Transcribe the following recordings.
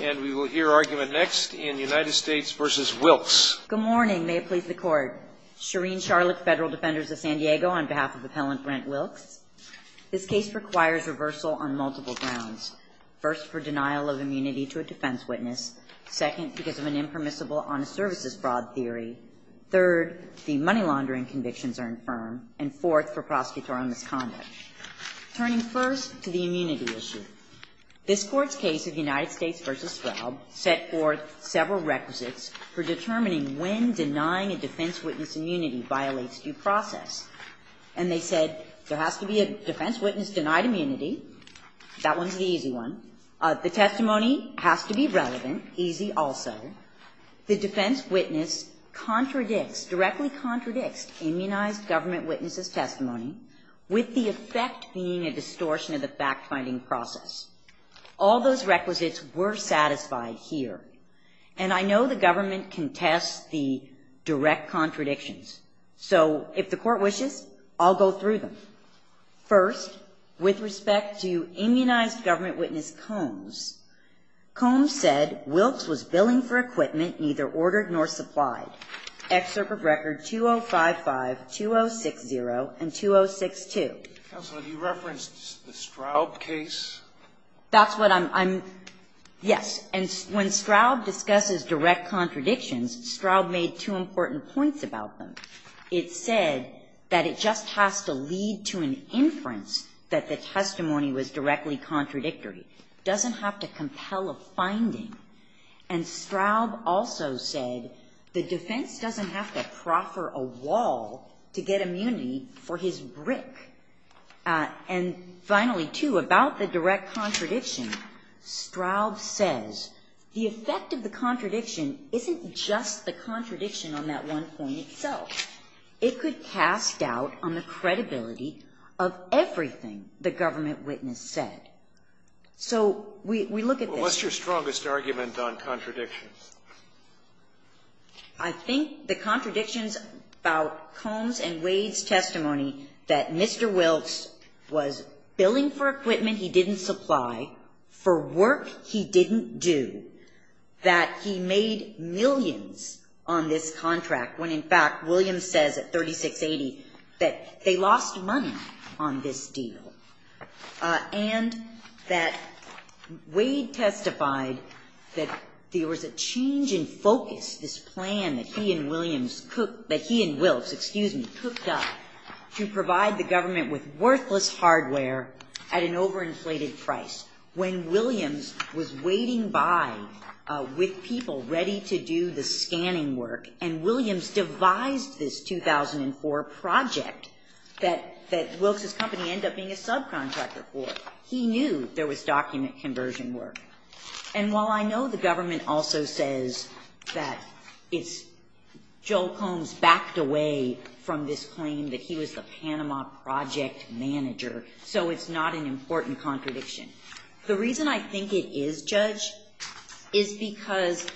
And we will hear argument next in United States v. Wilkes. Good morning. May it please the Court. Shereen Charlotte, Federal Defenders of San Diego, on behalf of Appellant Brent Wilkes. This case requires reversal on multiple grounds. First, for denial of immunity to a defense witness. Second, because of an impermissible on a services fraud theory. Third, the money laundering convictions are infirm. And fourth, for prosecutorial misconduct. Turning first to the immunity issue. This Court's case of United States v. Svob set forth several requisites for determining when denying a defense witness immunity violates due process. And they said, there has to be a defense witness denied immunity. That one's the easy one. The testimony has to be relevant, easy also. The defense witness directly contradicts immunized government witnesses' testimony with the effect being a distortion of the fact-finding process. All those requisites were satisfied here. And I know the government contests the direct contradictions. So if the Court wishes, I'll go through them. First, with respect to immunized government witness Combs. Combs said Wilkes was billing for equipment neither ordered nor supplied. Excerpt of record 2055, 2060, and 2062. Counsel, have you referenced the Straub case? That's what I'm, I'm, yes. And when Straub discusses direct contradictions, Straub made two important points about them. It said that it just has to lead to an inference that the testimony was directly contradictory. Doesn't have to compel a finding. And Straub also said, the defense doesn't have to proffer a wall to get immunity for his brick. And finally, too, about the direct contradiction, Straub says, the effect of the contradiction isn't just the contradiction on that one point itself. It could cast doubt on the credibility of everything the government witness said. So we, we look at this. What's your strongest argument on contradictions? I think the contradictions about Combs and Wade's testimony, that Mr. Wilkes was billing for equipment he didn't supply for work he didn't do. That he made millions on this contract, when in fact, Williams says at 3680, that they lost money on this deal. And that Wade testified that there was a change in focus, this plan that he and Williams, that he and Wilkes, excuse me, cooked up to provide the government with worthless hardware at an overinflated price. When Williams was waiting by with people ready to do the scanning work, and Williams devised this 2004 project that, that Wilkes' company ended up being a subcontractor for. He knew there was document conversion work. And while I know the government also says that it's, Joel Combs backed away from this claim that he was the Panama project manager. So it's not an important contradiction. The reason I think it is, Judge, is because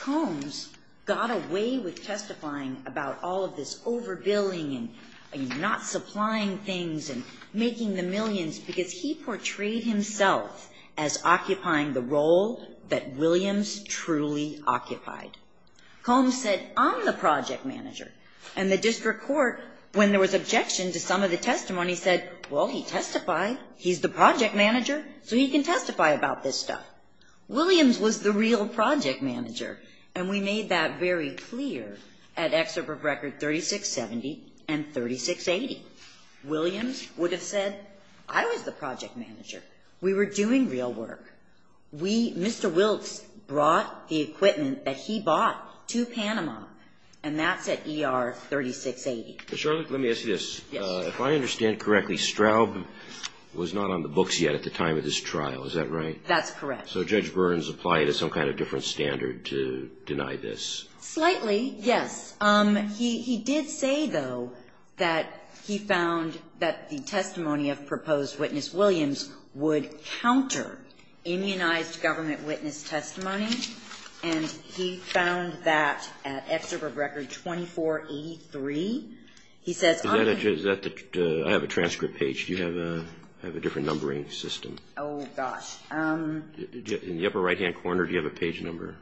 Combs got away with testifying about all of this overbilling and not supplying things and making the millions because he portrayed himself as occupying the role that Williams truly occupied. Combs said, I'm the project manager. And the district court, when there was objection to some of the testimony, said, well, he testified, he's the project manager, so he can testify about this stuff. Williams was the real project manager. And we made that very clear at excerpt of record 3670 and 3680. Williams would have said, I was the project manager. We were doing real work. We, Mr. Wilkes brought the equipment that he bought to Panama. And that's at ER 3680. Charlotte, let me ask you this. Yes. If I understand correctly, Straub was not on the books yet at the time of this trial, is that right? That's correct. So Judge Burns applied to some kind of different standard to deny this? Slightly, yes. He did say, though, that he found that the testimony of proposed witness Williams would counter immunized government witness testimony. And he found that at excerpt of record 2483, he says- Is that the, I have a transcript page. Do you have a different numbering system? Oh, gosh. In the upper right-hand corner, do you have a page number?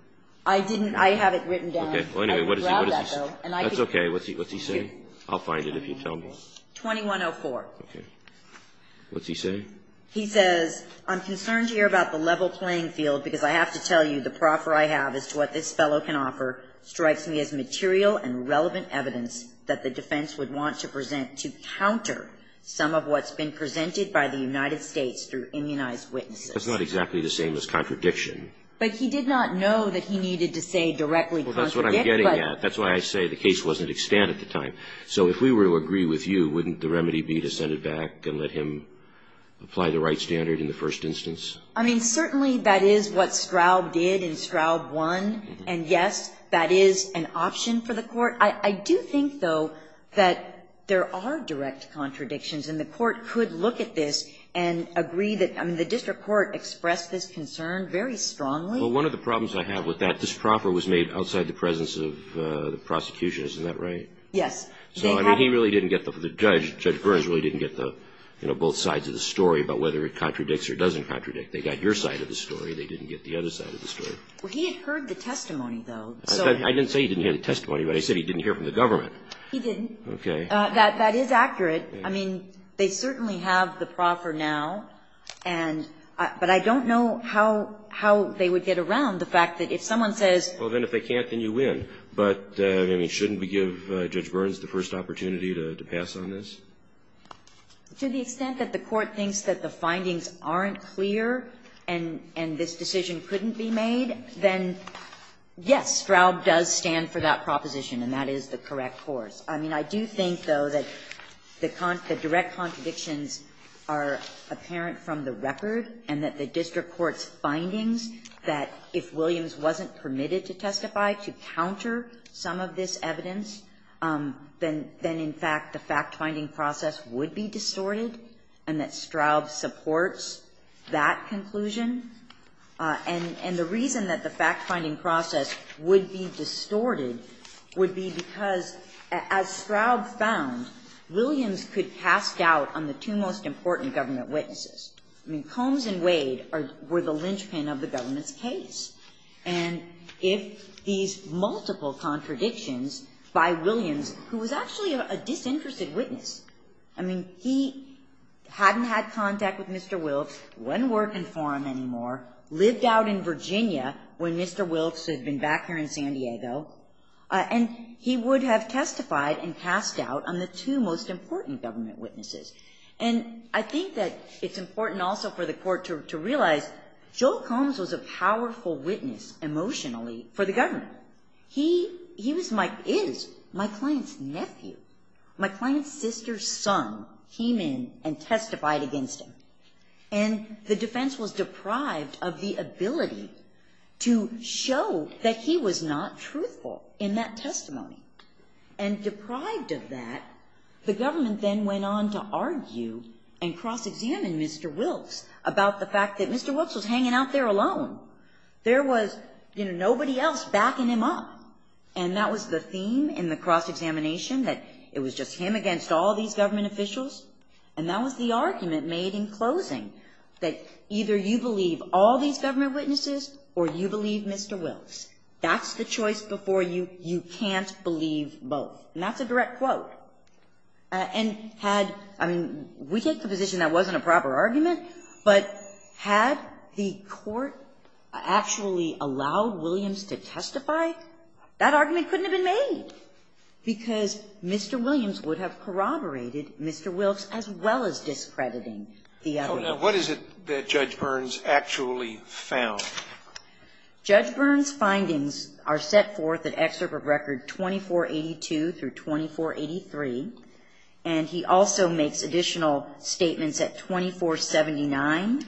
I didn't, I have it written down. Okay, well, anyway, what does he say? That's okay, what's he say? I'll find it if you tell me. 2104. Okay, what's he say? He says, I'm concerned to hear about the level playing field because I have to tell you the proffer I have as to what this fellow can offer strikes me as material and relevant evidence that the defense would want to present to counter some of what's been presented by the United States through immunized witnesses. That's not exactly the same as contradiction. But he did not know that he needed to say directly contradict, but- Well, that's what I'm getting at. That's why I say the case wasn't extant at the time. So if we were to agree with you, wouldn't the remedy be to send it back and let him apply the right standard in the first instance? I mean, certainly that is what Straub did, and Straub won. And yes, that is an option for the Court. I do think, though, that there are direct contradictions, and the Court could look at this and agree that, I mean, the district court expressed this concern very strongly. Well, one of the problems I have with that, this proffer was made outside the presence of the prosecution. Isn't that right? Yes. So, I mean, he really didn't get the judge. Judge Burns really didn't get the, you know, both sides of the story about whether it contradicts or doesn't contradict. They got your side of the story. They didn't get the other side of the story. Well, he had heard the testimony, though. I didn't say he didn't hear the testimony, but I said he didn't hear from the government. He didn't. Okay. That is accurate. I mean, they certainly have the proffer now, and but I don't know how they would get around the fact that if someone says. Well, then if they can't, then you win. But, I mean, shouldn't we give Judge Burns the first opportunity to pass on this? To the extent that the Court thinks that the findings aren't clear and this decision couldn't be made, then yes, Straub does stand for that proposition, and that is the correct course. I mean, I do think, though, that the direct contradictions are apparent from the record and that the district court's findings that if Williams wasn't permitted to testify to counter some of this evidence, then in fact the fact-finding process would be distorted and that Straub supports that conclusion. And the reason that the fact-finding process would be distorted would be because as Straub found, Williams could cast doubt on the two most important government witnesses. I mean, Combs and Wade were the linchpin of the government's case. And if these multiple contradictions by Williams, who was actually a disinterested witness, I mean, he hadn't had contact with Mr. Wilkes, wasn't working for him, lived out in Virginia when Mr. Wilkes had been back here in San Diego, and he would have testified and cast doubt on the two most important government witnesses. And I think that it's important also for the Court to realize Joe Combs was a powerful witness emotionally for the government. He is my client's nephew. My client's sister's son came in and testified against him. And the defense was deprived of the ability to show that he was not truthful in that testimony. And deprived of that, the government then went on to argue and cross-examine Mr. Wilkes about the fact that Mr. Wilkes was hanging out there alone. There was, you know, nobody else backing him up. And that was the theme in the cross-examination, that it was just him against all these government officials. And that was the argument made in closing, that either you believe all these government witnesses or you believe Mr. Wilkes. That's the choice before you. You can't believe both. And that's a direct quote. And had, I mean, we take the position that wasn't a proper argument, but had the Court actually allowed Williams to testify, that argument couldn't have been made, because Mr. Williams would have corroborated Mr. Wilkes as well as discrediting the other. Now, what is it that Judge Burns actually found? Judge Burns' findings are set forth in Excerpt of Record 2482 through 2483. And he also makes additional statements at 2479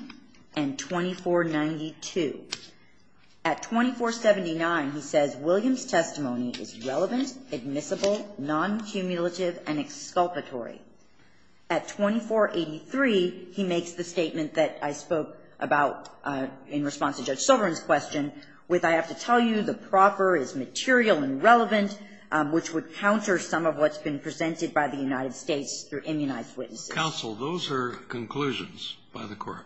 and 2492. At 2479, he says Williams' testimony is relevant, admissible, non-cumulative, and exculpatory. At 2483, he makes the statement that I spoke about in response to Judge Silverman's question with, I have to tell you, the proper is material and relevant, which would counter some of what's been presented by the United States through immunized witnesses. Counsel, those are conclusions by the Court.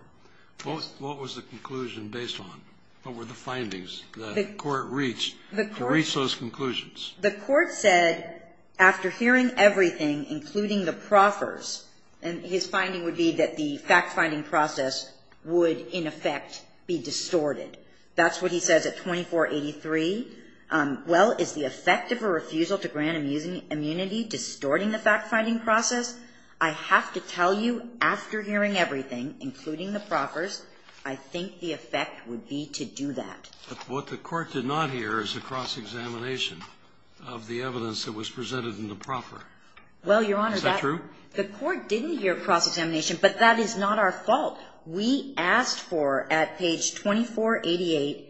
What was the conclusion based on? What were the findings that the Court reached to reach those conclusions? The Court said after hearing everything, including the proffers, and his finding would be that the fact-finding process would, in effect, be distorted. That's what he says at 2483. Well, is the effect of a refusal to grant immunity distorting the fact-finding process? I have to tell you, after hearing everything, including the proffers, I think the effect would be to do that. But what the Court did not hear is a cross-examination of the evidence that was presented in the proffer. Well, Your Honor, that's true. The Court didn't hear a cross-examination, but that is not our fault. We asked for, at page 2488,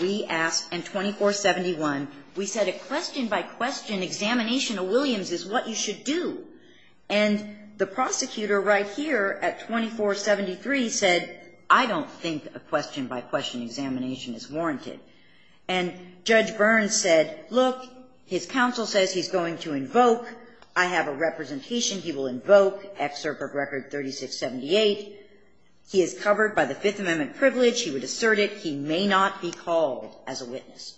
we asked in 2471, we said a question-by-question examination of Williams is what you should do. And the prosecutor right here at 2473 said, I don't think a question-by-question examination is warranted. And Judge Burns said, look, his counsel says he's going to invoke. I have a representation. He will invoke excerpt of record 3678. He is covered by the Fifth Amendment privilege. He would assert it. He may not be called as a witness.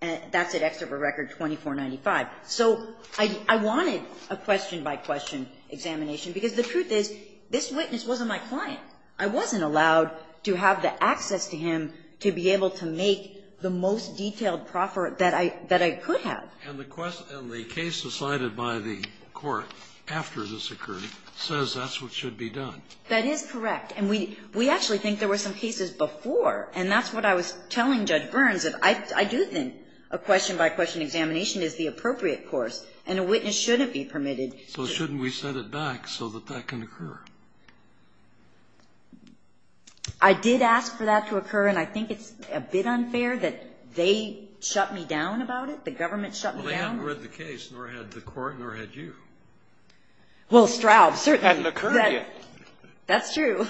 That's at excerpt of record 2495. So I wanted a question-by-question examination because the truth is, this witness wasn't my client. I wasn't allowed to have the access to him to be able to make the most detailed proffer that I could have. And the case decided by the Court after this occurred says that's what should be done. That is correct. And we actually think there were some cases before, and that's what I was telling Judge Burns, that I do think a question-by-question examination is the appropriate course. And a witness shouldn't be permitted to do that. So shouldn't we set it back so that that can occur? I did ask for that to occur, and I think it's a bit unfair that they shut me down about it. The government shut me down. Well, they hadn't read the case, nor had the Court, nor had you. Well, Straub, certainly. It hadn't occurred yet. That's true.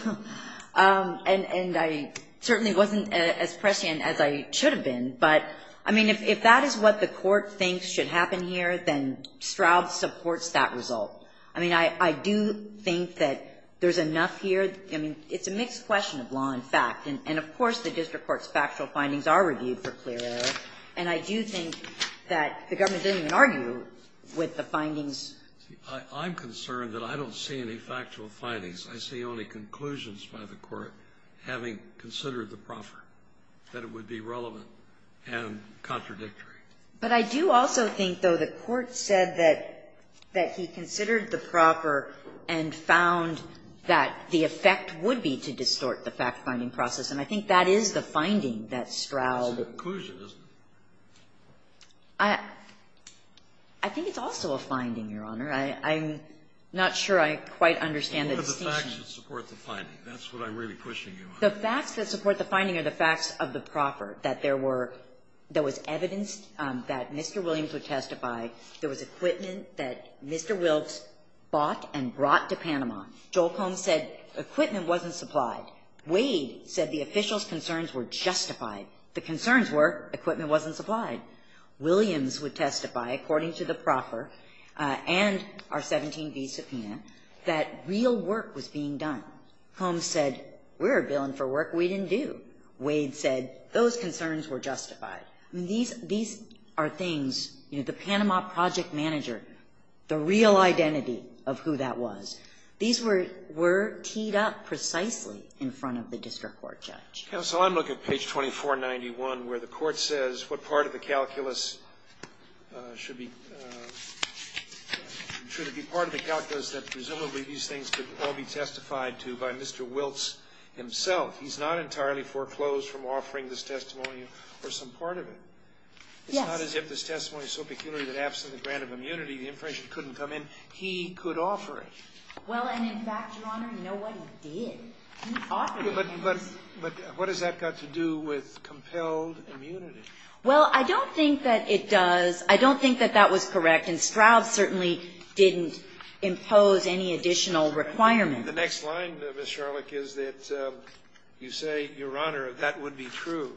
And I certainly wasn't as prescient as I should have been. But, I mean, if that is what the Court thinks should happen here, then Straub supports that result. I mean, I do think that there's enough here. I mean, it's a mixed question of law and fact. And, of course, the district court's factual findings are reviewed for clear error. And I do think that the government didn't even argue with the findings. I'm concerned that I don't see any factual findings. I see only conclusions by the Court, having considered the proffer, that it would be relevant and contradictory. But I do also think, though, the Court said that he considered the proffer and found that the effect would be to distort the fact-finding process. And I think that is the finding that Straub — It's a conclusion, isn't it? I think it's also a finding, Your Honor. I'm not sure I quite understand the distinction. But what are the facts that support the finding? That's what I'm really pushing you on. The facts that support the finding are the facts of the proffer, that there were — there was evidence that Mr. Williams would testify. There was equipment that Mr. Wilkes bought and brought to Panama. Joel Combs said equipment wasn't supplied. Wade said the officials' concerns were justified. The concerns were equipment wasn't supplied. Williams would testify, according to the proffer and our 17b subpoena, that real work was being done. Combs said we're billing for work we didn't do. Wade said those concerns were justified. These are things, you know, the Panama project manager, the real identity of who that was, these were teed up precisely in front of the district court judge. Counsel, I'm looking at page 2491, where the court says what part of the calculus should be — should it be part of the calculus that presumably these things could all be testified to by Mr. Wilkes himself. He's not entirely foreclosed from offering this testimony or some part of it. Yes. It's not as if this testimony is so peculiar that absent the grant of immunity, the information couldn't come in. He could offer it. Well, and in fact, Your Honor, you know what? He did. He offered it. But what has that got to do with compelled immunity? Well, I don't think that it does. I don't think that that was correct. And Stroud certainly didn't impose any additional requirements. The next line, Ms. Sharlock, is that you say, Your Honor, that would be true.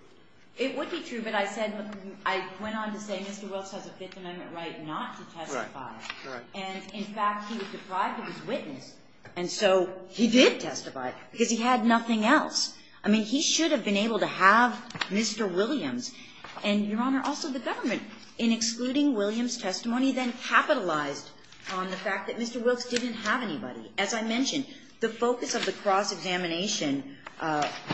It would be true, but I said — I went on to say Mr. Wilkes has a Fifth Amendment right not to testify. Right, right. And, in fact, he was deprived of his witness, and so he did testify because he had nothing else. I mean, he should have been able to have Mr. Williams. And, Your Honor, also the government, in excluding Williams' testimony, then capitalized on the fact that Mr. Wilkes didn't have anybody. As I mentioned, the focus of the cross-examination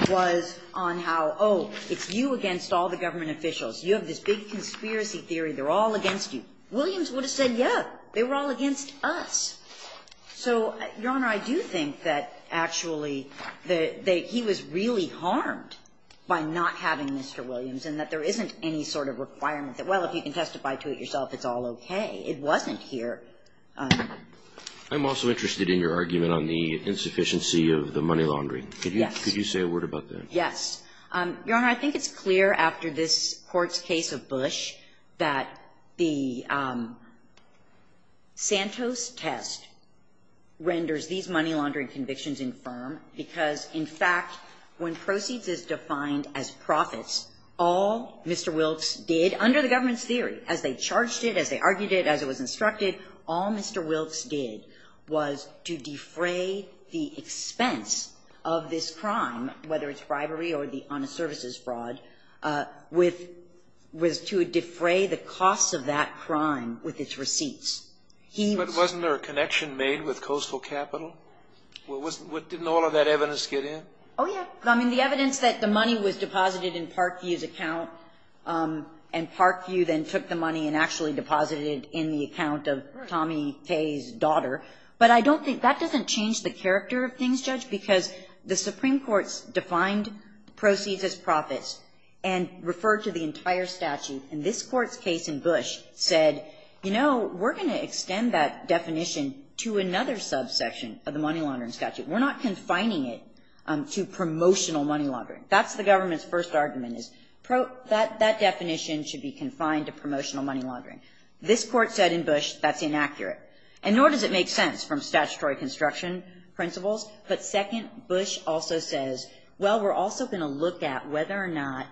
was on how, oh, it's you against all the government officials. You have this big conspiracy theory. They're all against you. Williams would have said, yes, they were all against us. So, Your Honor, I do think that actually the — that he was really harmed by not having Mr. Williams and that there isn't any sort of requirement that, well, if you can testify to it yourself, it's all okay. It wasn't here. I'm also interested in your argument on the insufficiency of the money laundry. Yes. Could you say a word about that? Yes. Your Honor, I think it's clear after this Court's case of Bush that the Santos test renders these money laundering convictions infirm because, in fact, when proceeds is defined as profits, all Mr. Wilkes did, under the government's theory, as they charged it, as they argued it, as it was instructed, all Mr. Wilkes did was to defray the expense of this crime, whether it's bribery or the honest services fraud, with — was to defray the costs of that crime with its receipts. But wasn't there a connection made with Coastal Capital? Didn't all of that evidence get in? Oh, yeah. I mean, the evidence that the money was deposited in Parkview's account, and Parkview then took the money and actually deposited it in the account of Tommy Kaye's daughter. But I don't think — that doesn't change the character of things, Judge, because the Supreme Court's defined proceeds as profits and referred to the entire statute. And this Court's case in Bush said, you know, we're going to extend that definition to another subsection of the money laundering statute. We're not confining it to promotional money laundering. That's the government's first argument, is that definition should be confined to promotional money laundering. This Court said in Bush that's inaccurate. And nor does it make sense from statutory construction principles. But second, Bush also says, well, we're also going to look at whether or not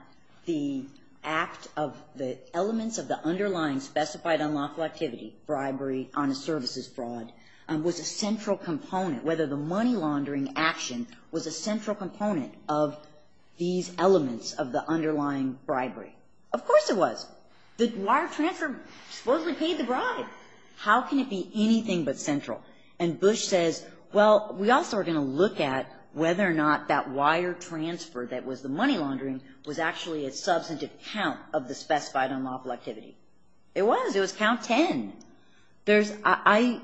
the act of the elements of the underlying specified unlawful activity, bribery, honest services fraud, was a central component, whether the money laundering action was a central component of these elements of the underlying bribery. Of course it was. The wire transfer supposedly paid the bribe. How can it be anything but central? And Bush says, well, we also are going to look at whether or not that wire transfer that was the money laundering was actually a substantive count of the specified unlawful activity. It was. It was count 10. There's – I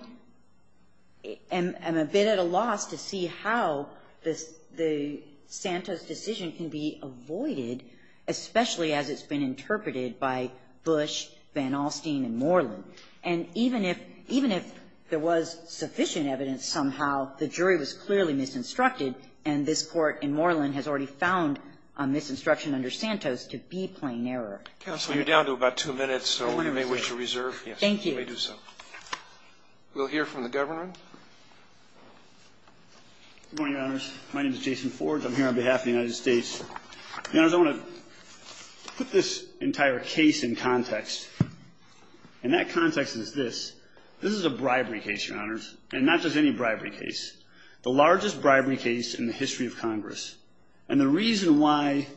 am a bit at a loss to see how this – the Santos decision can be avoided, especially as it's been interpreted by Bush, Van Alstyne, and Moreland. And even if – even if there was sufficient evidence somehow, the jury was clearly misinstructed, and this Court in Moreland has already found a misinstruction under Santos to be plain error. Counsel, you're down to about two minutes, so you may wish to reserve. Thank you. You may do so. We'll hear from the Governor. Good morning, Your Honors. My name is Jason Forge. I'm here on behalf of the United States. Your Honors, I want to put this entire case in context. And that context is this. This is a bribery case, Your Honors, and not just any bribery case. The largest bribery case in the history of Congress. And the reason why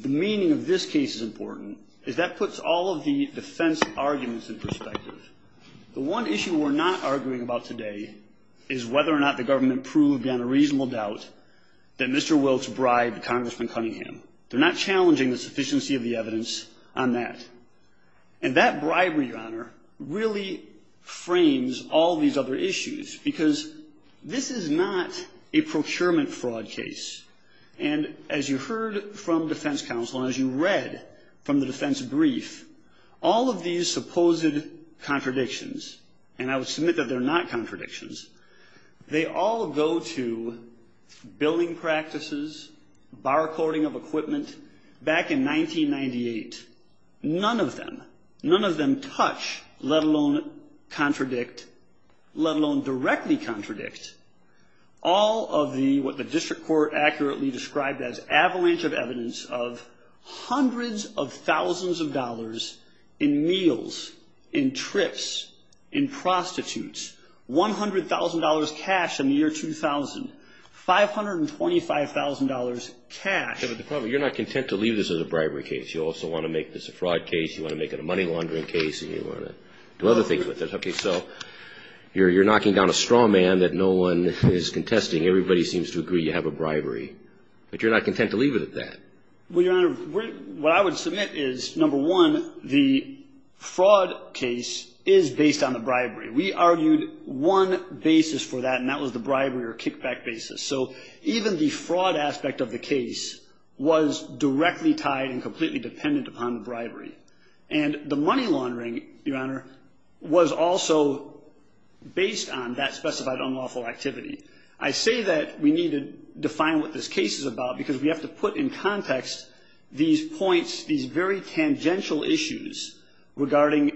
the meaning of this case is important is that puts all of the defense arguments in perspective. The one issue we're not arguing about today is whether or not the government proved beyond a reasonable doubt that Mr. Wilkes bribed Congressman Cunningham. They're not challenging the sufficiency of the evidence on that. And that bribery, Your Honor, really frames all these other issues because this is not a procurement fraud case. And as you heard from defense counsel and as you read from the defense brief, all of these supposed contradictions, and I would submit that they're not contradictions, they all go to billing practices, barcoding of equipment. Back in 1998, none of them, none of them touch, let alone contradict, let alone directly contradict, all of the, what the district court accurately described as avalanche of evidence of hundreds of thousands of dollars in meals, in trips, in prostitutes, $100,000 cash in the year 2000, $525,000 cash. But the problem, you're not content to leave this as a bribery case. You also want to make this a fraud case, you want to make it a money laundering case, and you want to do other things with it. Okay, so you're knocking down a straw man that no one is contesting. Everybody seems to agree you have a bribery. But you're not content to leave it at that. Well, Your Honor, what I would submit is, number one, the fraud case is based on the bribery. We argued one basis for that, and that was the bribery or kickback basis. So even the fraud aspect of the case was directly tied and completely dependent upon the bribery. And the money laundering, Your Honor, was also based on that specified unlawful activity. I say that we need to define what this case is about because we have to put in context these points, these very tangential issues regarding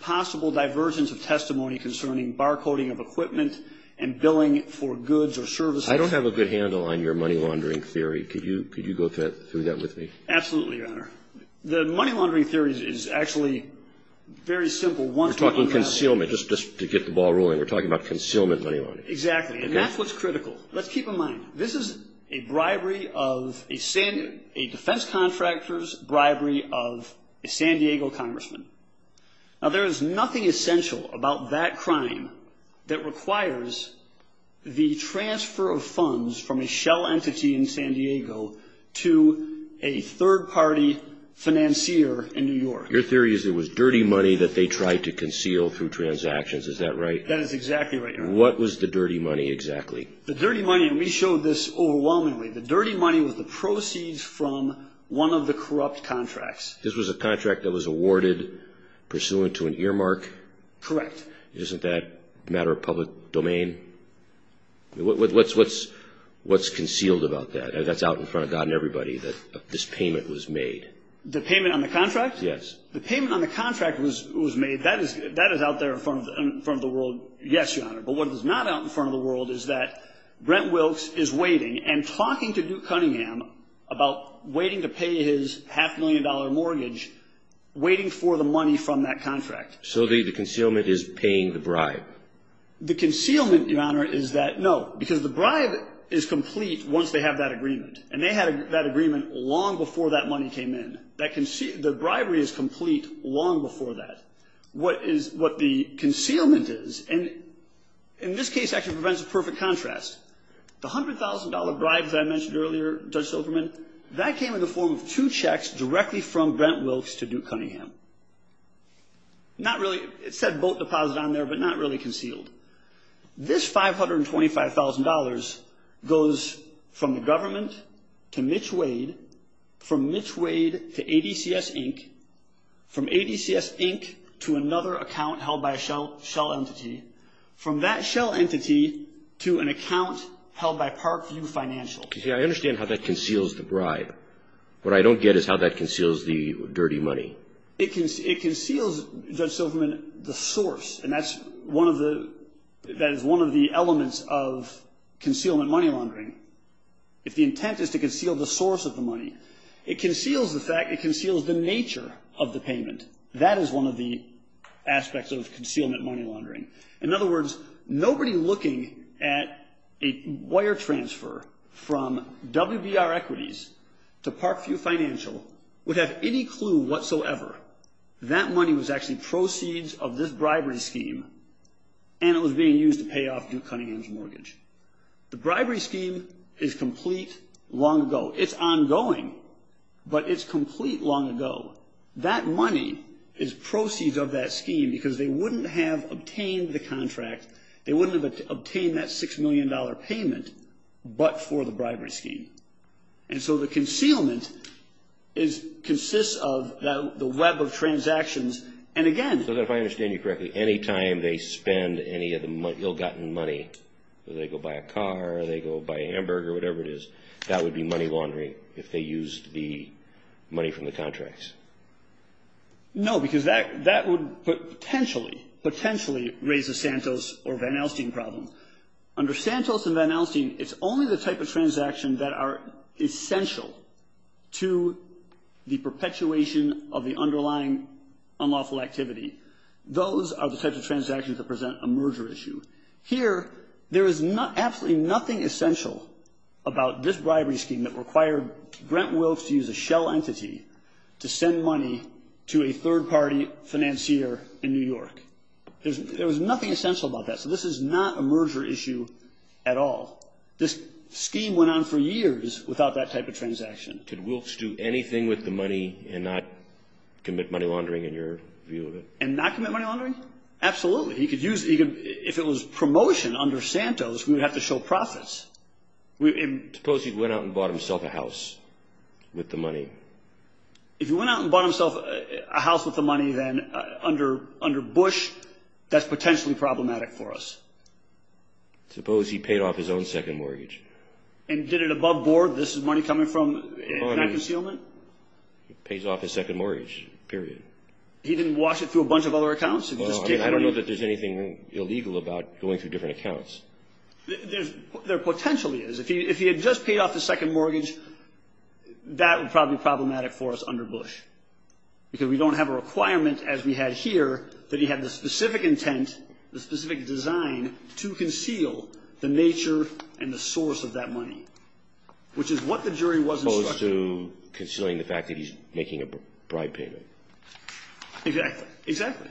possible divergence of testimony concerning bar coding of equipment and billing for goods or services. I don't have a good handle on your money laundering theory. Could you go through that with me? Absolutely, Your Honor. The money laundering theory is actually very simple. We're talking concealment, just to get the ball rolling. We're talking about concealment money laundering. Exactly, and that's what's critical. Let's keep in mind, this is a bribery of a defense contractor's bribery of a San Diego congressman. Now, there is nothing essential about that crime that requires the transfer of funds from a shell entity in San Diego to a third-party financier in New York. Your theory is it was dirty money that they tried to conceal through transactions. Is that right? That is exactly right, Your Honor. What was the dirty money exactly? The dirty money, and we showed this overwhelmingly, the dirty money was the proceeds from one of the corrupt contracts. This was a contract that was awarded pursuant to an earmark? Correct. Isn't that a matter of public domain? What's concealed about that? That's out in front of God and everybody, that this payment was made. The payment on the contract? Yes. The payment on the contract was made. That is out there in front of the world, yes, Your Honor, but what is not out in front of the world is that Brent Wilkes is waiting and talking to Duke Cunningham about waiting to pay his half-million-dollar mortgage, waiting for the money from that contract. So the concealment is paying the bribe? The concealment, Your Honor, is that no, because the bribe is complete once they have that agreement, and they had that agreement long before that money came in. The bribery is complete long before that. What the concealment is, and in this case, actually presents a perfect contrast. The $100,000 bribe that I mentioned earlier, Judge Silverman, that came in the form of two checks directly from Brent Wilkes to Duke Cunningham. Not really, it said boat deposit on there, but not really concealed. This $525,000 goes from the government to Mitch Wade, from Mitch Wade to ADCS Inc., from ADCS Inc. to another account held by a shell entity, from that shell entity to an account held by Parkview Financial. See, I understand how that conceals the bribe. What I don't get is how that conceals the dirty money. It conceals, Judge Silverman, the source, and that is one of the elements of concealment money laundering. If the intent is to conceal the source of the money, it conceals the nature of the payment. That is one of the aspects of concealment money laundering. In other words, nobody looking at a wire transfer from WBR Equities to Parkview Financial would have any clue whatsoever that money was actually proceeds of this bribery scheme, and it was being used to pay off Duke Cunningham's mortgage. The bribery scheme is complete long ago. It's ongoing, but it's complete long ago. That money is proceeds of that scheme because they wouldn't have obtained the contract. They wouldn't have obtained that $6 million payment but for the bribery scheme, and so the concealment consists of the web of transactions, and again... So, if I understand you correctly, any time they spend any of the ill-gotten money, they go buy a car, they go buy a hamburger, whatever it is, that would be money laundering if they used the money from the contracts. No, because that would potentially raise a Santos or Van Elstein problem. Under Santos and Van Elstein, it's only the type of transaction that are essential to the perpetuation of the underlying unlawful activity. Those are the types of transactions that present a merger issue. Here, there is absolutely nothing essential about this bribery scheme that required Grant Wilkes to use a shell entity to send money to a third-party financier in New York. There was nothing essential about that, so this is not a merger issue at all. This scheme went on for years without that type of transaction. Could Wilkes do anything with the money and not commit money laundering, in your view of it? And not commit money laundering? Absolutely. If it was promotion under Santos, we would have to show profits. Suppose he went out and bought himself a house with the money. If he went out and bought himself a house with the money, then under Bush, that's potentially problematic for us. Suppose he paid off his own second mortgage. And did it above board? This is money coming from bank concealment? He pays off his second mortgage, period. He didn't wash it through a bunch of other accounts? I don't know that there's anything illegal about going through different accounts. There potentially is. If he had just paid off his second mortgage, that would probably be problematic for us under Bush, because we don't have a requirement, as we had here, that he had the specific intent, the specific design to conceal the nature and the source of that money, which is what the jury was instructed. As opposed to concealing the fact that he's making a bribe payment. Exactly.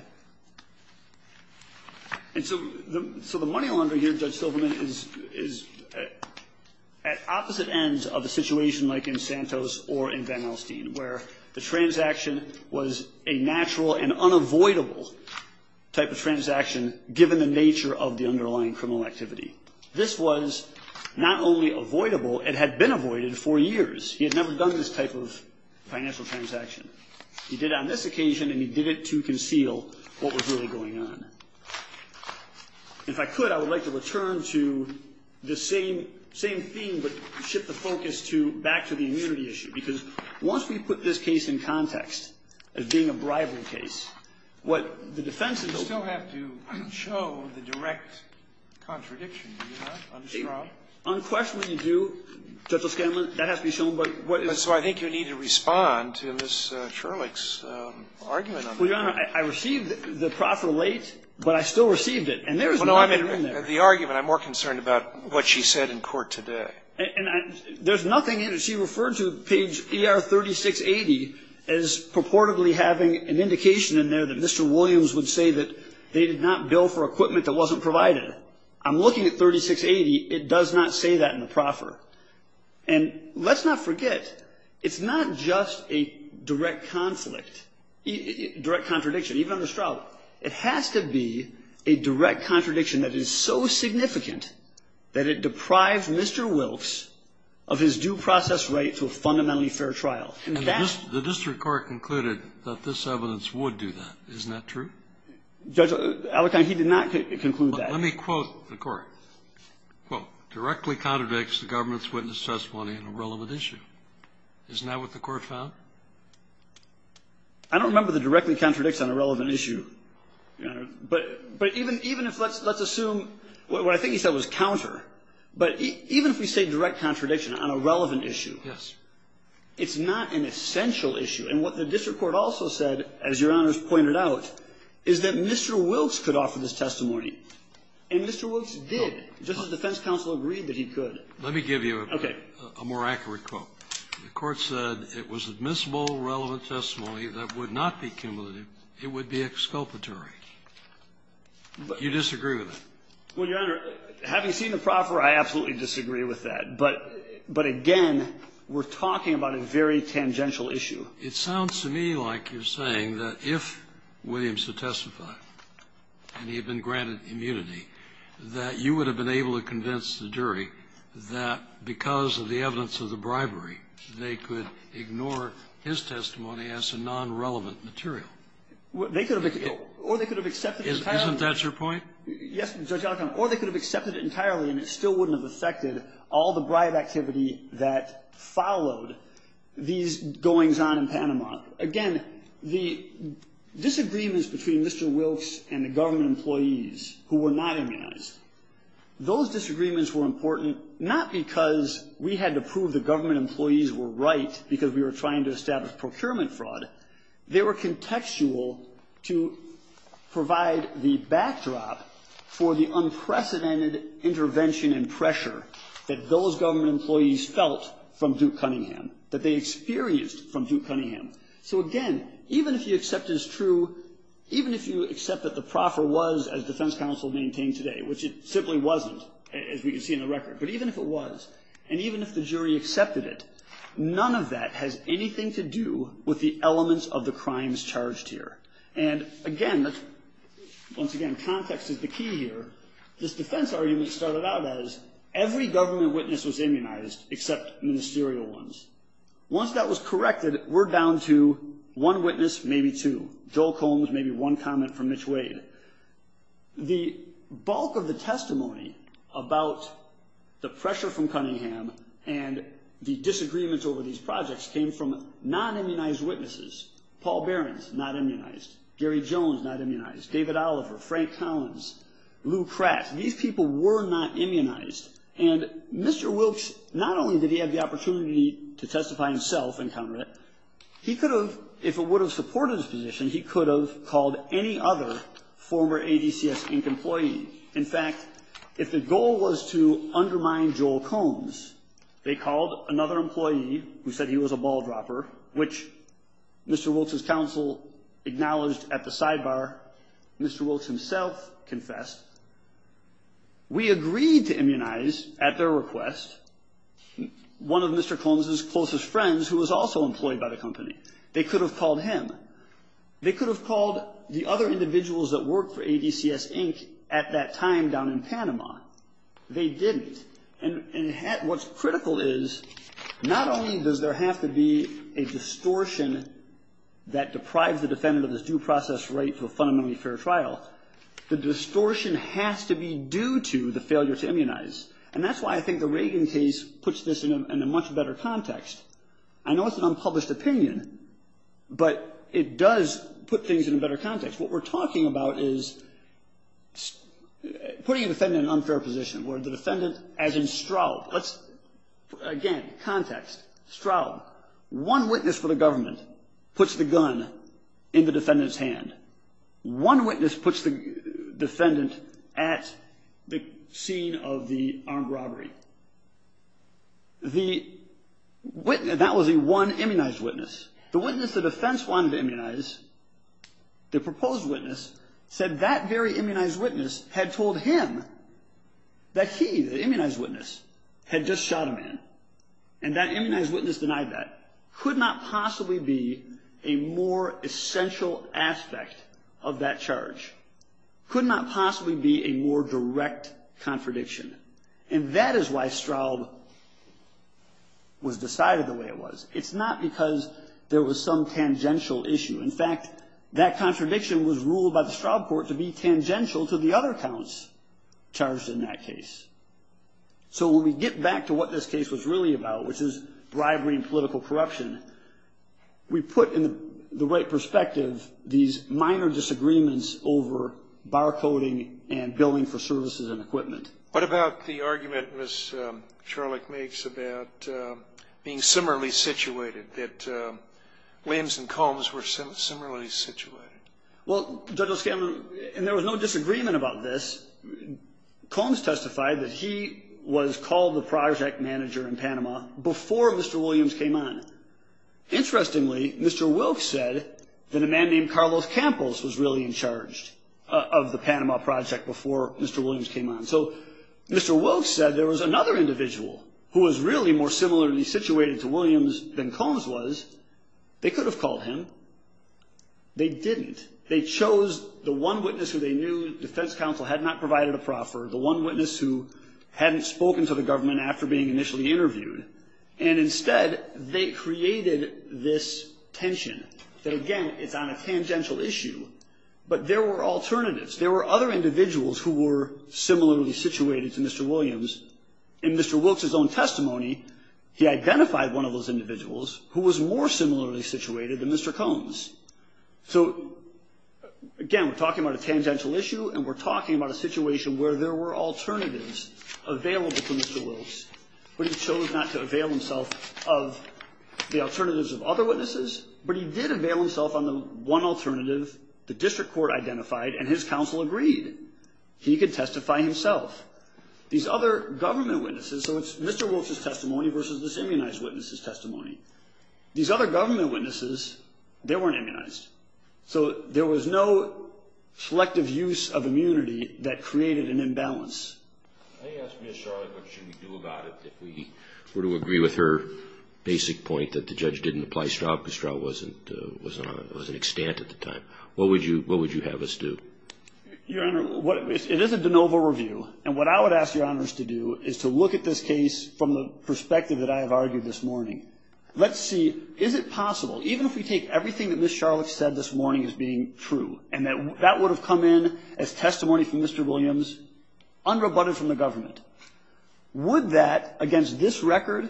And so, the money launder here, Judge Silverman, is at opposite ends of a situation like in Santos or in Van Alstyne, where the transaction was a natural and unavoidable type of transaction, given the nature of the underlying criminal activity. This was not only avoidable, it had been avoided for years. He had never done this type of financial transaction. He did it on this occasion, and he did it to conceal what was really going on. If I could, I would like to return to the same theme, but shift the focus back to the immunity issue, because once we put this case in context as being a bribery case, what the defense is going to do. You still have to show the direct contradiction, do you not, on the straw? Unquestionably, you do. Judge O'Scanlan, that has to be shown, but what is. And so, I think you need to respond to Ms. Shurlick's argument on that. Well, Your Honor, I received the proffer late, but I still received it, and there is nothing in there. The argument, I'm more concerned about what she said in court today. And there's nothing in it. She referred to page ER 3680 as purportedly having an indication in there that Mr. Williams would say that they did not bill for equipment that wasn't provided. And let's not forget, it's not just a direct conflict, direct contradiction. Even on the straw, it has to be a direct contradiction that is so significant that it deprives Mr. Wilkes of his due process right to a fundamentally fair trial. And that's. The district court concluded that this evidence would do that. Isn't that true? Judge Allekin, he did not conclude that. Let me quote the court, quote, directly contradicts the government's witness testimony on a relevant issue. Isn't that what the court found? I don't remember the directly contradicts on a relevant issue, Your Honor. But even if let's assume, what I think he said was counter. But even if we say direct contradiction on a relevant issue. Yes. It's not an essential issue. And what the district court also said, as Your Honor's pointed out, is that Mr. Wilkes could offer this testimony. And Mr. Wilkes did. Justice defense counsel agreed that he could. Let me give you a more accurate quote. The court said it was admissible relevant testimony that would not be cumulative. It would be exculpatory. You disagree with that? Well, Your Honor, having seen the proffer, I absolutely disagree with that. But again, we're talking about a very tangential issue. It sounds to me like you're saying that if Williams had testified and he had been granted immunity, that you would have been able to convince the jury that because of the evidence of the bribery, they could ignore his testimony as a nonrelevant material. They could have or they could have accepted it entirely. Isn't that your point? Yes, Judge Alitone. Or they could have accepted it entirely and it still wouldn't have affected all the bribe activity that followed these goings on in Panama. Again, the disagreements between Mr. Wilkes and the government employees who were not immunized, those disagreements were important not because we had to prove the government employees were right because we were trying to establish procurement fraud. They were contextual to provide the backdrop for the unprecedented intervention and pressure that those government employees felt from Duke Cunningham, that they experienced from Duke Cunningham. So again, even if you accept it as true, even if you accept that the proffer was, as defense counsel maintained today, which it simply wasn't, as we can see in the record, but even if it was, and even if the jury accepted it, none of that has anything to do with the elements of the crimes charged here. And again, once again, context is the key here. This defense argument started out as, every government witness was immunized except ministerial ones. Once that was corrected, we're down to one witness, maybe two. Joel Combs, maybe one comment from Mitch Wade. The bulk of the testimony about the pressure from Cunningham and the disagreements over these projects came from non-immunized witnesses. Paul Behrens, not immunized. Gary Jones, not immunized. David Oliver, Frank Collins, Lou Kratz, these people were not immunized. And Mr. Wilkes, not only did he have the opportunity to testify himself and counter it, he could have, if it would have supported his position, he could have called any other former ADCS Inc. employee. In fact, if the goal was to undermine Joel Combs, they called another employee who said he was a ball dropper, which Mr. Wilkes' counsel acknowledged at the time, Mr. Wilkes himself confessed. We agreed to immunize, at their request, one of Mr. Combs' closest friends who was also employed by the company. They could have called him. They could have called the other individuals that worked for ADCS Inc. at that time down in Panama. They didn't. And what's critical is, not only does there have to be a distortion that The distortion has to be due to the failure to immunize. And that's why I think the Reagan case puts this in a much better context. I know it's an unpublished opinion, but it does put things in a better context. What we're talking about is putting a defendant in an unfair position, where the defendant, as in Straub, let's, again, context, Straub, one witness for the government puts the gun in the defendant's hand. One witness puts the defendant at the scene of the armed robbery. The witness, that was the one immunized witness. The witness the defense wanted to immunize, the proposed witness, said that very immunized witness had told him that he, the immunized witness, had just shot a man. And that immunized witness denied that. Could not possibly be a more essential aspect of that charge. Could not possibly be a more direct contradiction. And that is why Straub was decided the way it was. It's not because there was some tangential issue. In fact, that contradiction was ruled by the Straub court to be tangential to the other counts charged in that case. So when we get back to what this case was really about, which is bribery and political corruption, we put in the right perspective these minor disagreements over barcoding and billing for services and equipment. What about the argument Ms. Charlotte makes about being similarly situated, that Williams and Combs were similarly situated? Well, Judge O'Scannon, and there was no disagreement about this. Combs testified that he was called the project manager in Panama before Mr. Williams came on. Interestingly, Mr. Wilkes said that a man named Carlos Campos was really in charge of the Panama project before Mr. Williams came on. So Mr. Wilkes said there was another individual who was really more similarly situated to Williams than Combs was. They could have called him. They didn't. They chose the one witness who they knew defense counsel had not provided a proffer, the one witness who hadn't spoken to the government after being initially interviewed. And instead, they created this tension. That again, it's on a tangential issue, but there were alternatives. There were other individuals who were similarly situated to Mr. Williams. In Mr. Wilkes' own testimony, he identified one of those individuals who was more similarly situated than Mr. Combs. So again, we're talking about a tangential issue, and we're talking about a situation where there were alternatives available to Mr. Wilkes, but he chose not to avail himself of the alternatives of other witnesses. But he did avail himself on the one alternative the district court identified, and his counsel agreed. He could testify himself. These other government witnesses, so These other government witnesses, they weren't immunized. So there was no selective use of immunity that created an imbalance. I asked Ms. Charlotte what should we do about it if we were to agree with her basic point that the judge didn't apply Straub because Straub was an extant at the time. What would you have us do? Your Honor, it is a de novo review. And what I would ask your honors to do is to look at this case from the perspective that I have argued this morning. Let's see, is it possible, even if we take everything that Ms. Charlotte said this morning as being true, and that would have come in as testimony from Mr. Williams, unrebutted from the government. Would that, against this record,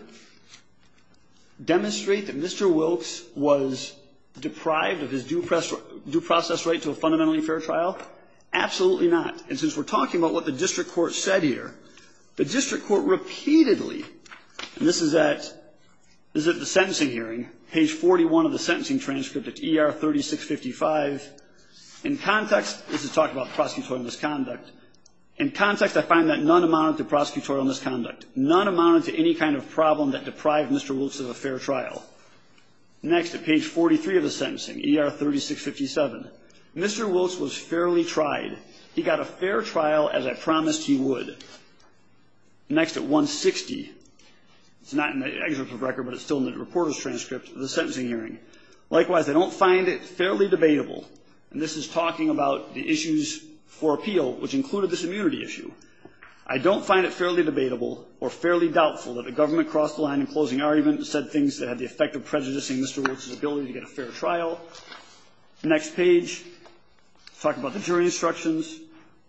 demonstrate that Mr. Wilkes was deprived of his due process right to a fundamentally fair trial? Absolutely not. And since we're talking about what the district court said here, the district court repeatedly, and this is at the sentencing hearing, page 41 of the sentencing transcript at ER 3655, in context, this is talking about prosecutorial misconduct. In context, I find that none amounted to prosecutorial misconduct. None amounted to any kind of problem that deprived Mr. Wilkes of a fair trial. Next, at page 43 of the sentencing, ER 3657, Mr. Wilkes was fairly tried. He got a fair trial as I promised he would. Next at 160, it's not in the excerpt of record, but it's still in the reporter's transcript of the sentencing hearing. Likewise, I don't find it fairly debatable, and this is talking about the issues for appeal, which included this immunity issue. I don't find it fairly debatable or fairly doubtful that the government crossed the line in closing argument and said things that had the effect of prejudicing Mr. Wilkes' ability to get a fair trial. Next page, talk about the jury instructions.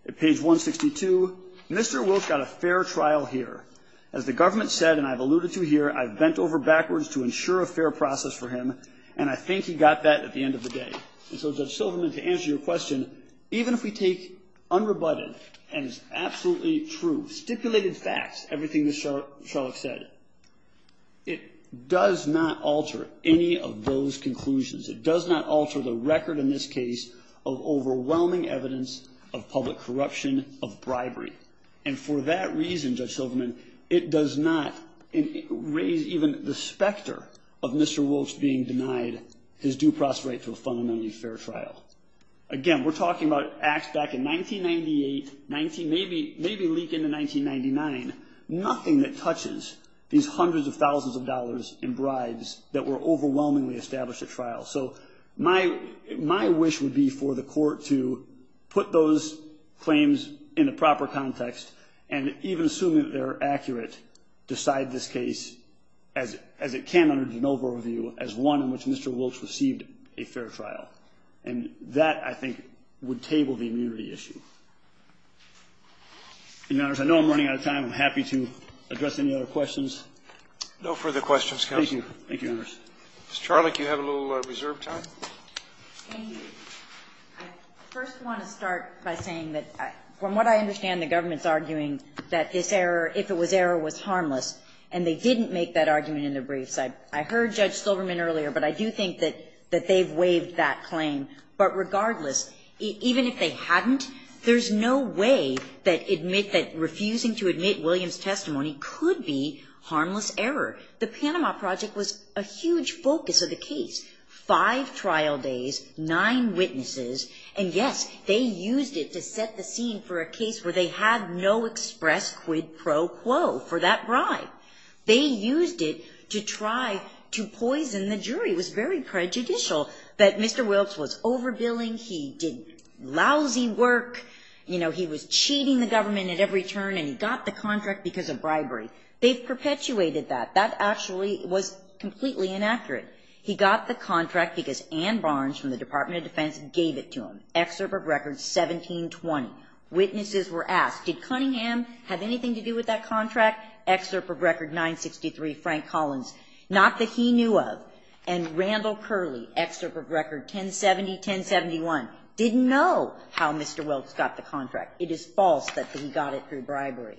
At page 162, Mr. Wilkes got a fair trial here. As the government said, and I've alluded to here, I've bent over backwards to ensure a fair process for him. And I think he got that at the end of the day. And so, Judge Silverman, to answer your question, even if we take unrebutted, and it's absolutely true, stipulated facts, everything that Sherlock said, it does not alter any of those conclusions. It does not alter the record in this case of overwhelming evidence of public corruption, of bribery. And for that reason, Judge Silverman, it does not raise even the specter of Mr. Wilkes being denied his due process right to a fundamentally fair trial. Again, we're talking about acts back in 1998, maybe leak into 1999. That were overwhelmingly established at trial. So, my wish would be for the court to put those claims in the proper context, and even assume that they're accurate, decide this case as it can under de novo review as one in which Mr. Wilkes received a fair trial. And that, I think, would table the immunity issue. Your Honors, I know I'm running out of time. I'm happy to address any other questions. Roberts, no further questions, counsel. Thank you. Thank you, Your Honors. Ms. Charlock, you have a little reserve time. Thank you. I first want to start by saying that, from what I understand, the government's arguing that this error, if it was error, was harmless. And they didn't make that argument in the briefs. I heard Judge Silverman earlier, but I do think that they've waived that claim. But regardless, even if they hadn't, there's no way that admit that refusing to admit Williams' testimony could be harmless error. The Panama Project was a huge focus of the case. Five trial days, nine witnesses, and yes, they used it to set the scene for a case where they had no express quid pro quo for that bribe. They used it to try to poison the jury. It was very prejudicial that Mr. Wilkes was overbilling, he did lousy work. You know, he was cheating the government at every turn and he got the contract because of bribery. They've perpetuated that. That actually was completely inaccurate. He got the contract because Ann Barnes from the Department of Defense gave it to him. Excerpt of record 1720. Witnesses were asked, did Cunningham have anything to do with that contract? Excerpt of record 963, Frank Collins, not that he knew of. And Randall Curley, excerpt of record 1070, 1071, didn't know how Mr. Wilkes got the contract. It is false that he got it through bribery.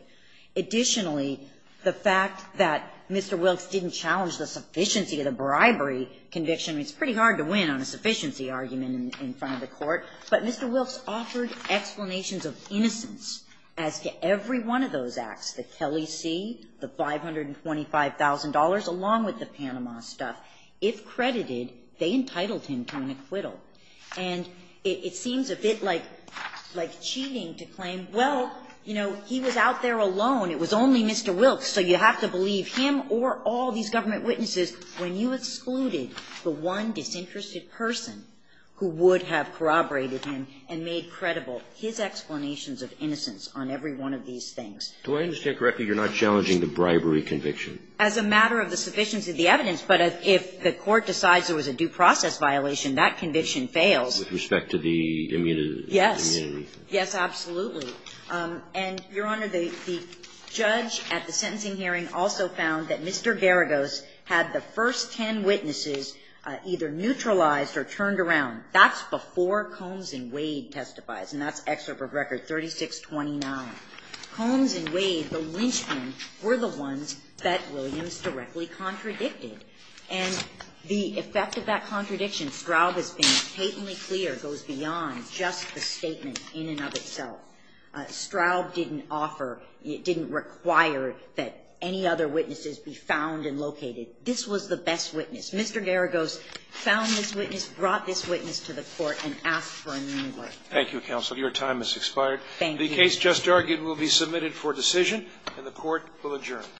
Additionally, the fact that Mr. Wilkes didn't challenge the sufficiency of the bribery conviction, it's pretty hard to win on a sufficiency argument in front of the Court. But Mr. Wilkes offered explanations of innocence as to every one of those acts, the Kelly C., the $525,000, along with the Panama stuff. If credited, they entitled him to an acquittal. And it seems a bit like cheating to claim, well, you know, he was out there alone. It was only Mr. Wilkes, so you have to believe him or all these government witnesses when you excluded the one disinterested person who would have corroborated him and made credible his explanations of innocence on every one of these things. Do I understand correctly you're not challenging the bribery conviction? As a matter of the sufficiency of the evidence, but if the Court decides there was a due process violation, that conviction fails. With respect to the immunity? Yes. Yes, absolutely. And, Your Honor, the judge at the sentencing hearing also found that Mr. Garagos had the first ten witnesses either neutralized or turned around. That's before Combs and Wade testifies, and that's excerpt of Record 3629. Combs and Wade, the lynchmen, were the ones that Williams directly contradicted. And the effect of that contradiction, Straub has been patently clear, goes beyond just the statement in and of itself. Straub didn't offer, didn't require that any other witnesses be found and located. This was the best witness. Mr. Garagos found this witness, brought this witness to the Court, and asked for an inquiry. Thank you, counsel. Your time has expired. Thank you. The case just argued will be submitted for decision, and the Court will adjourn.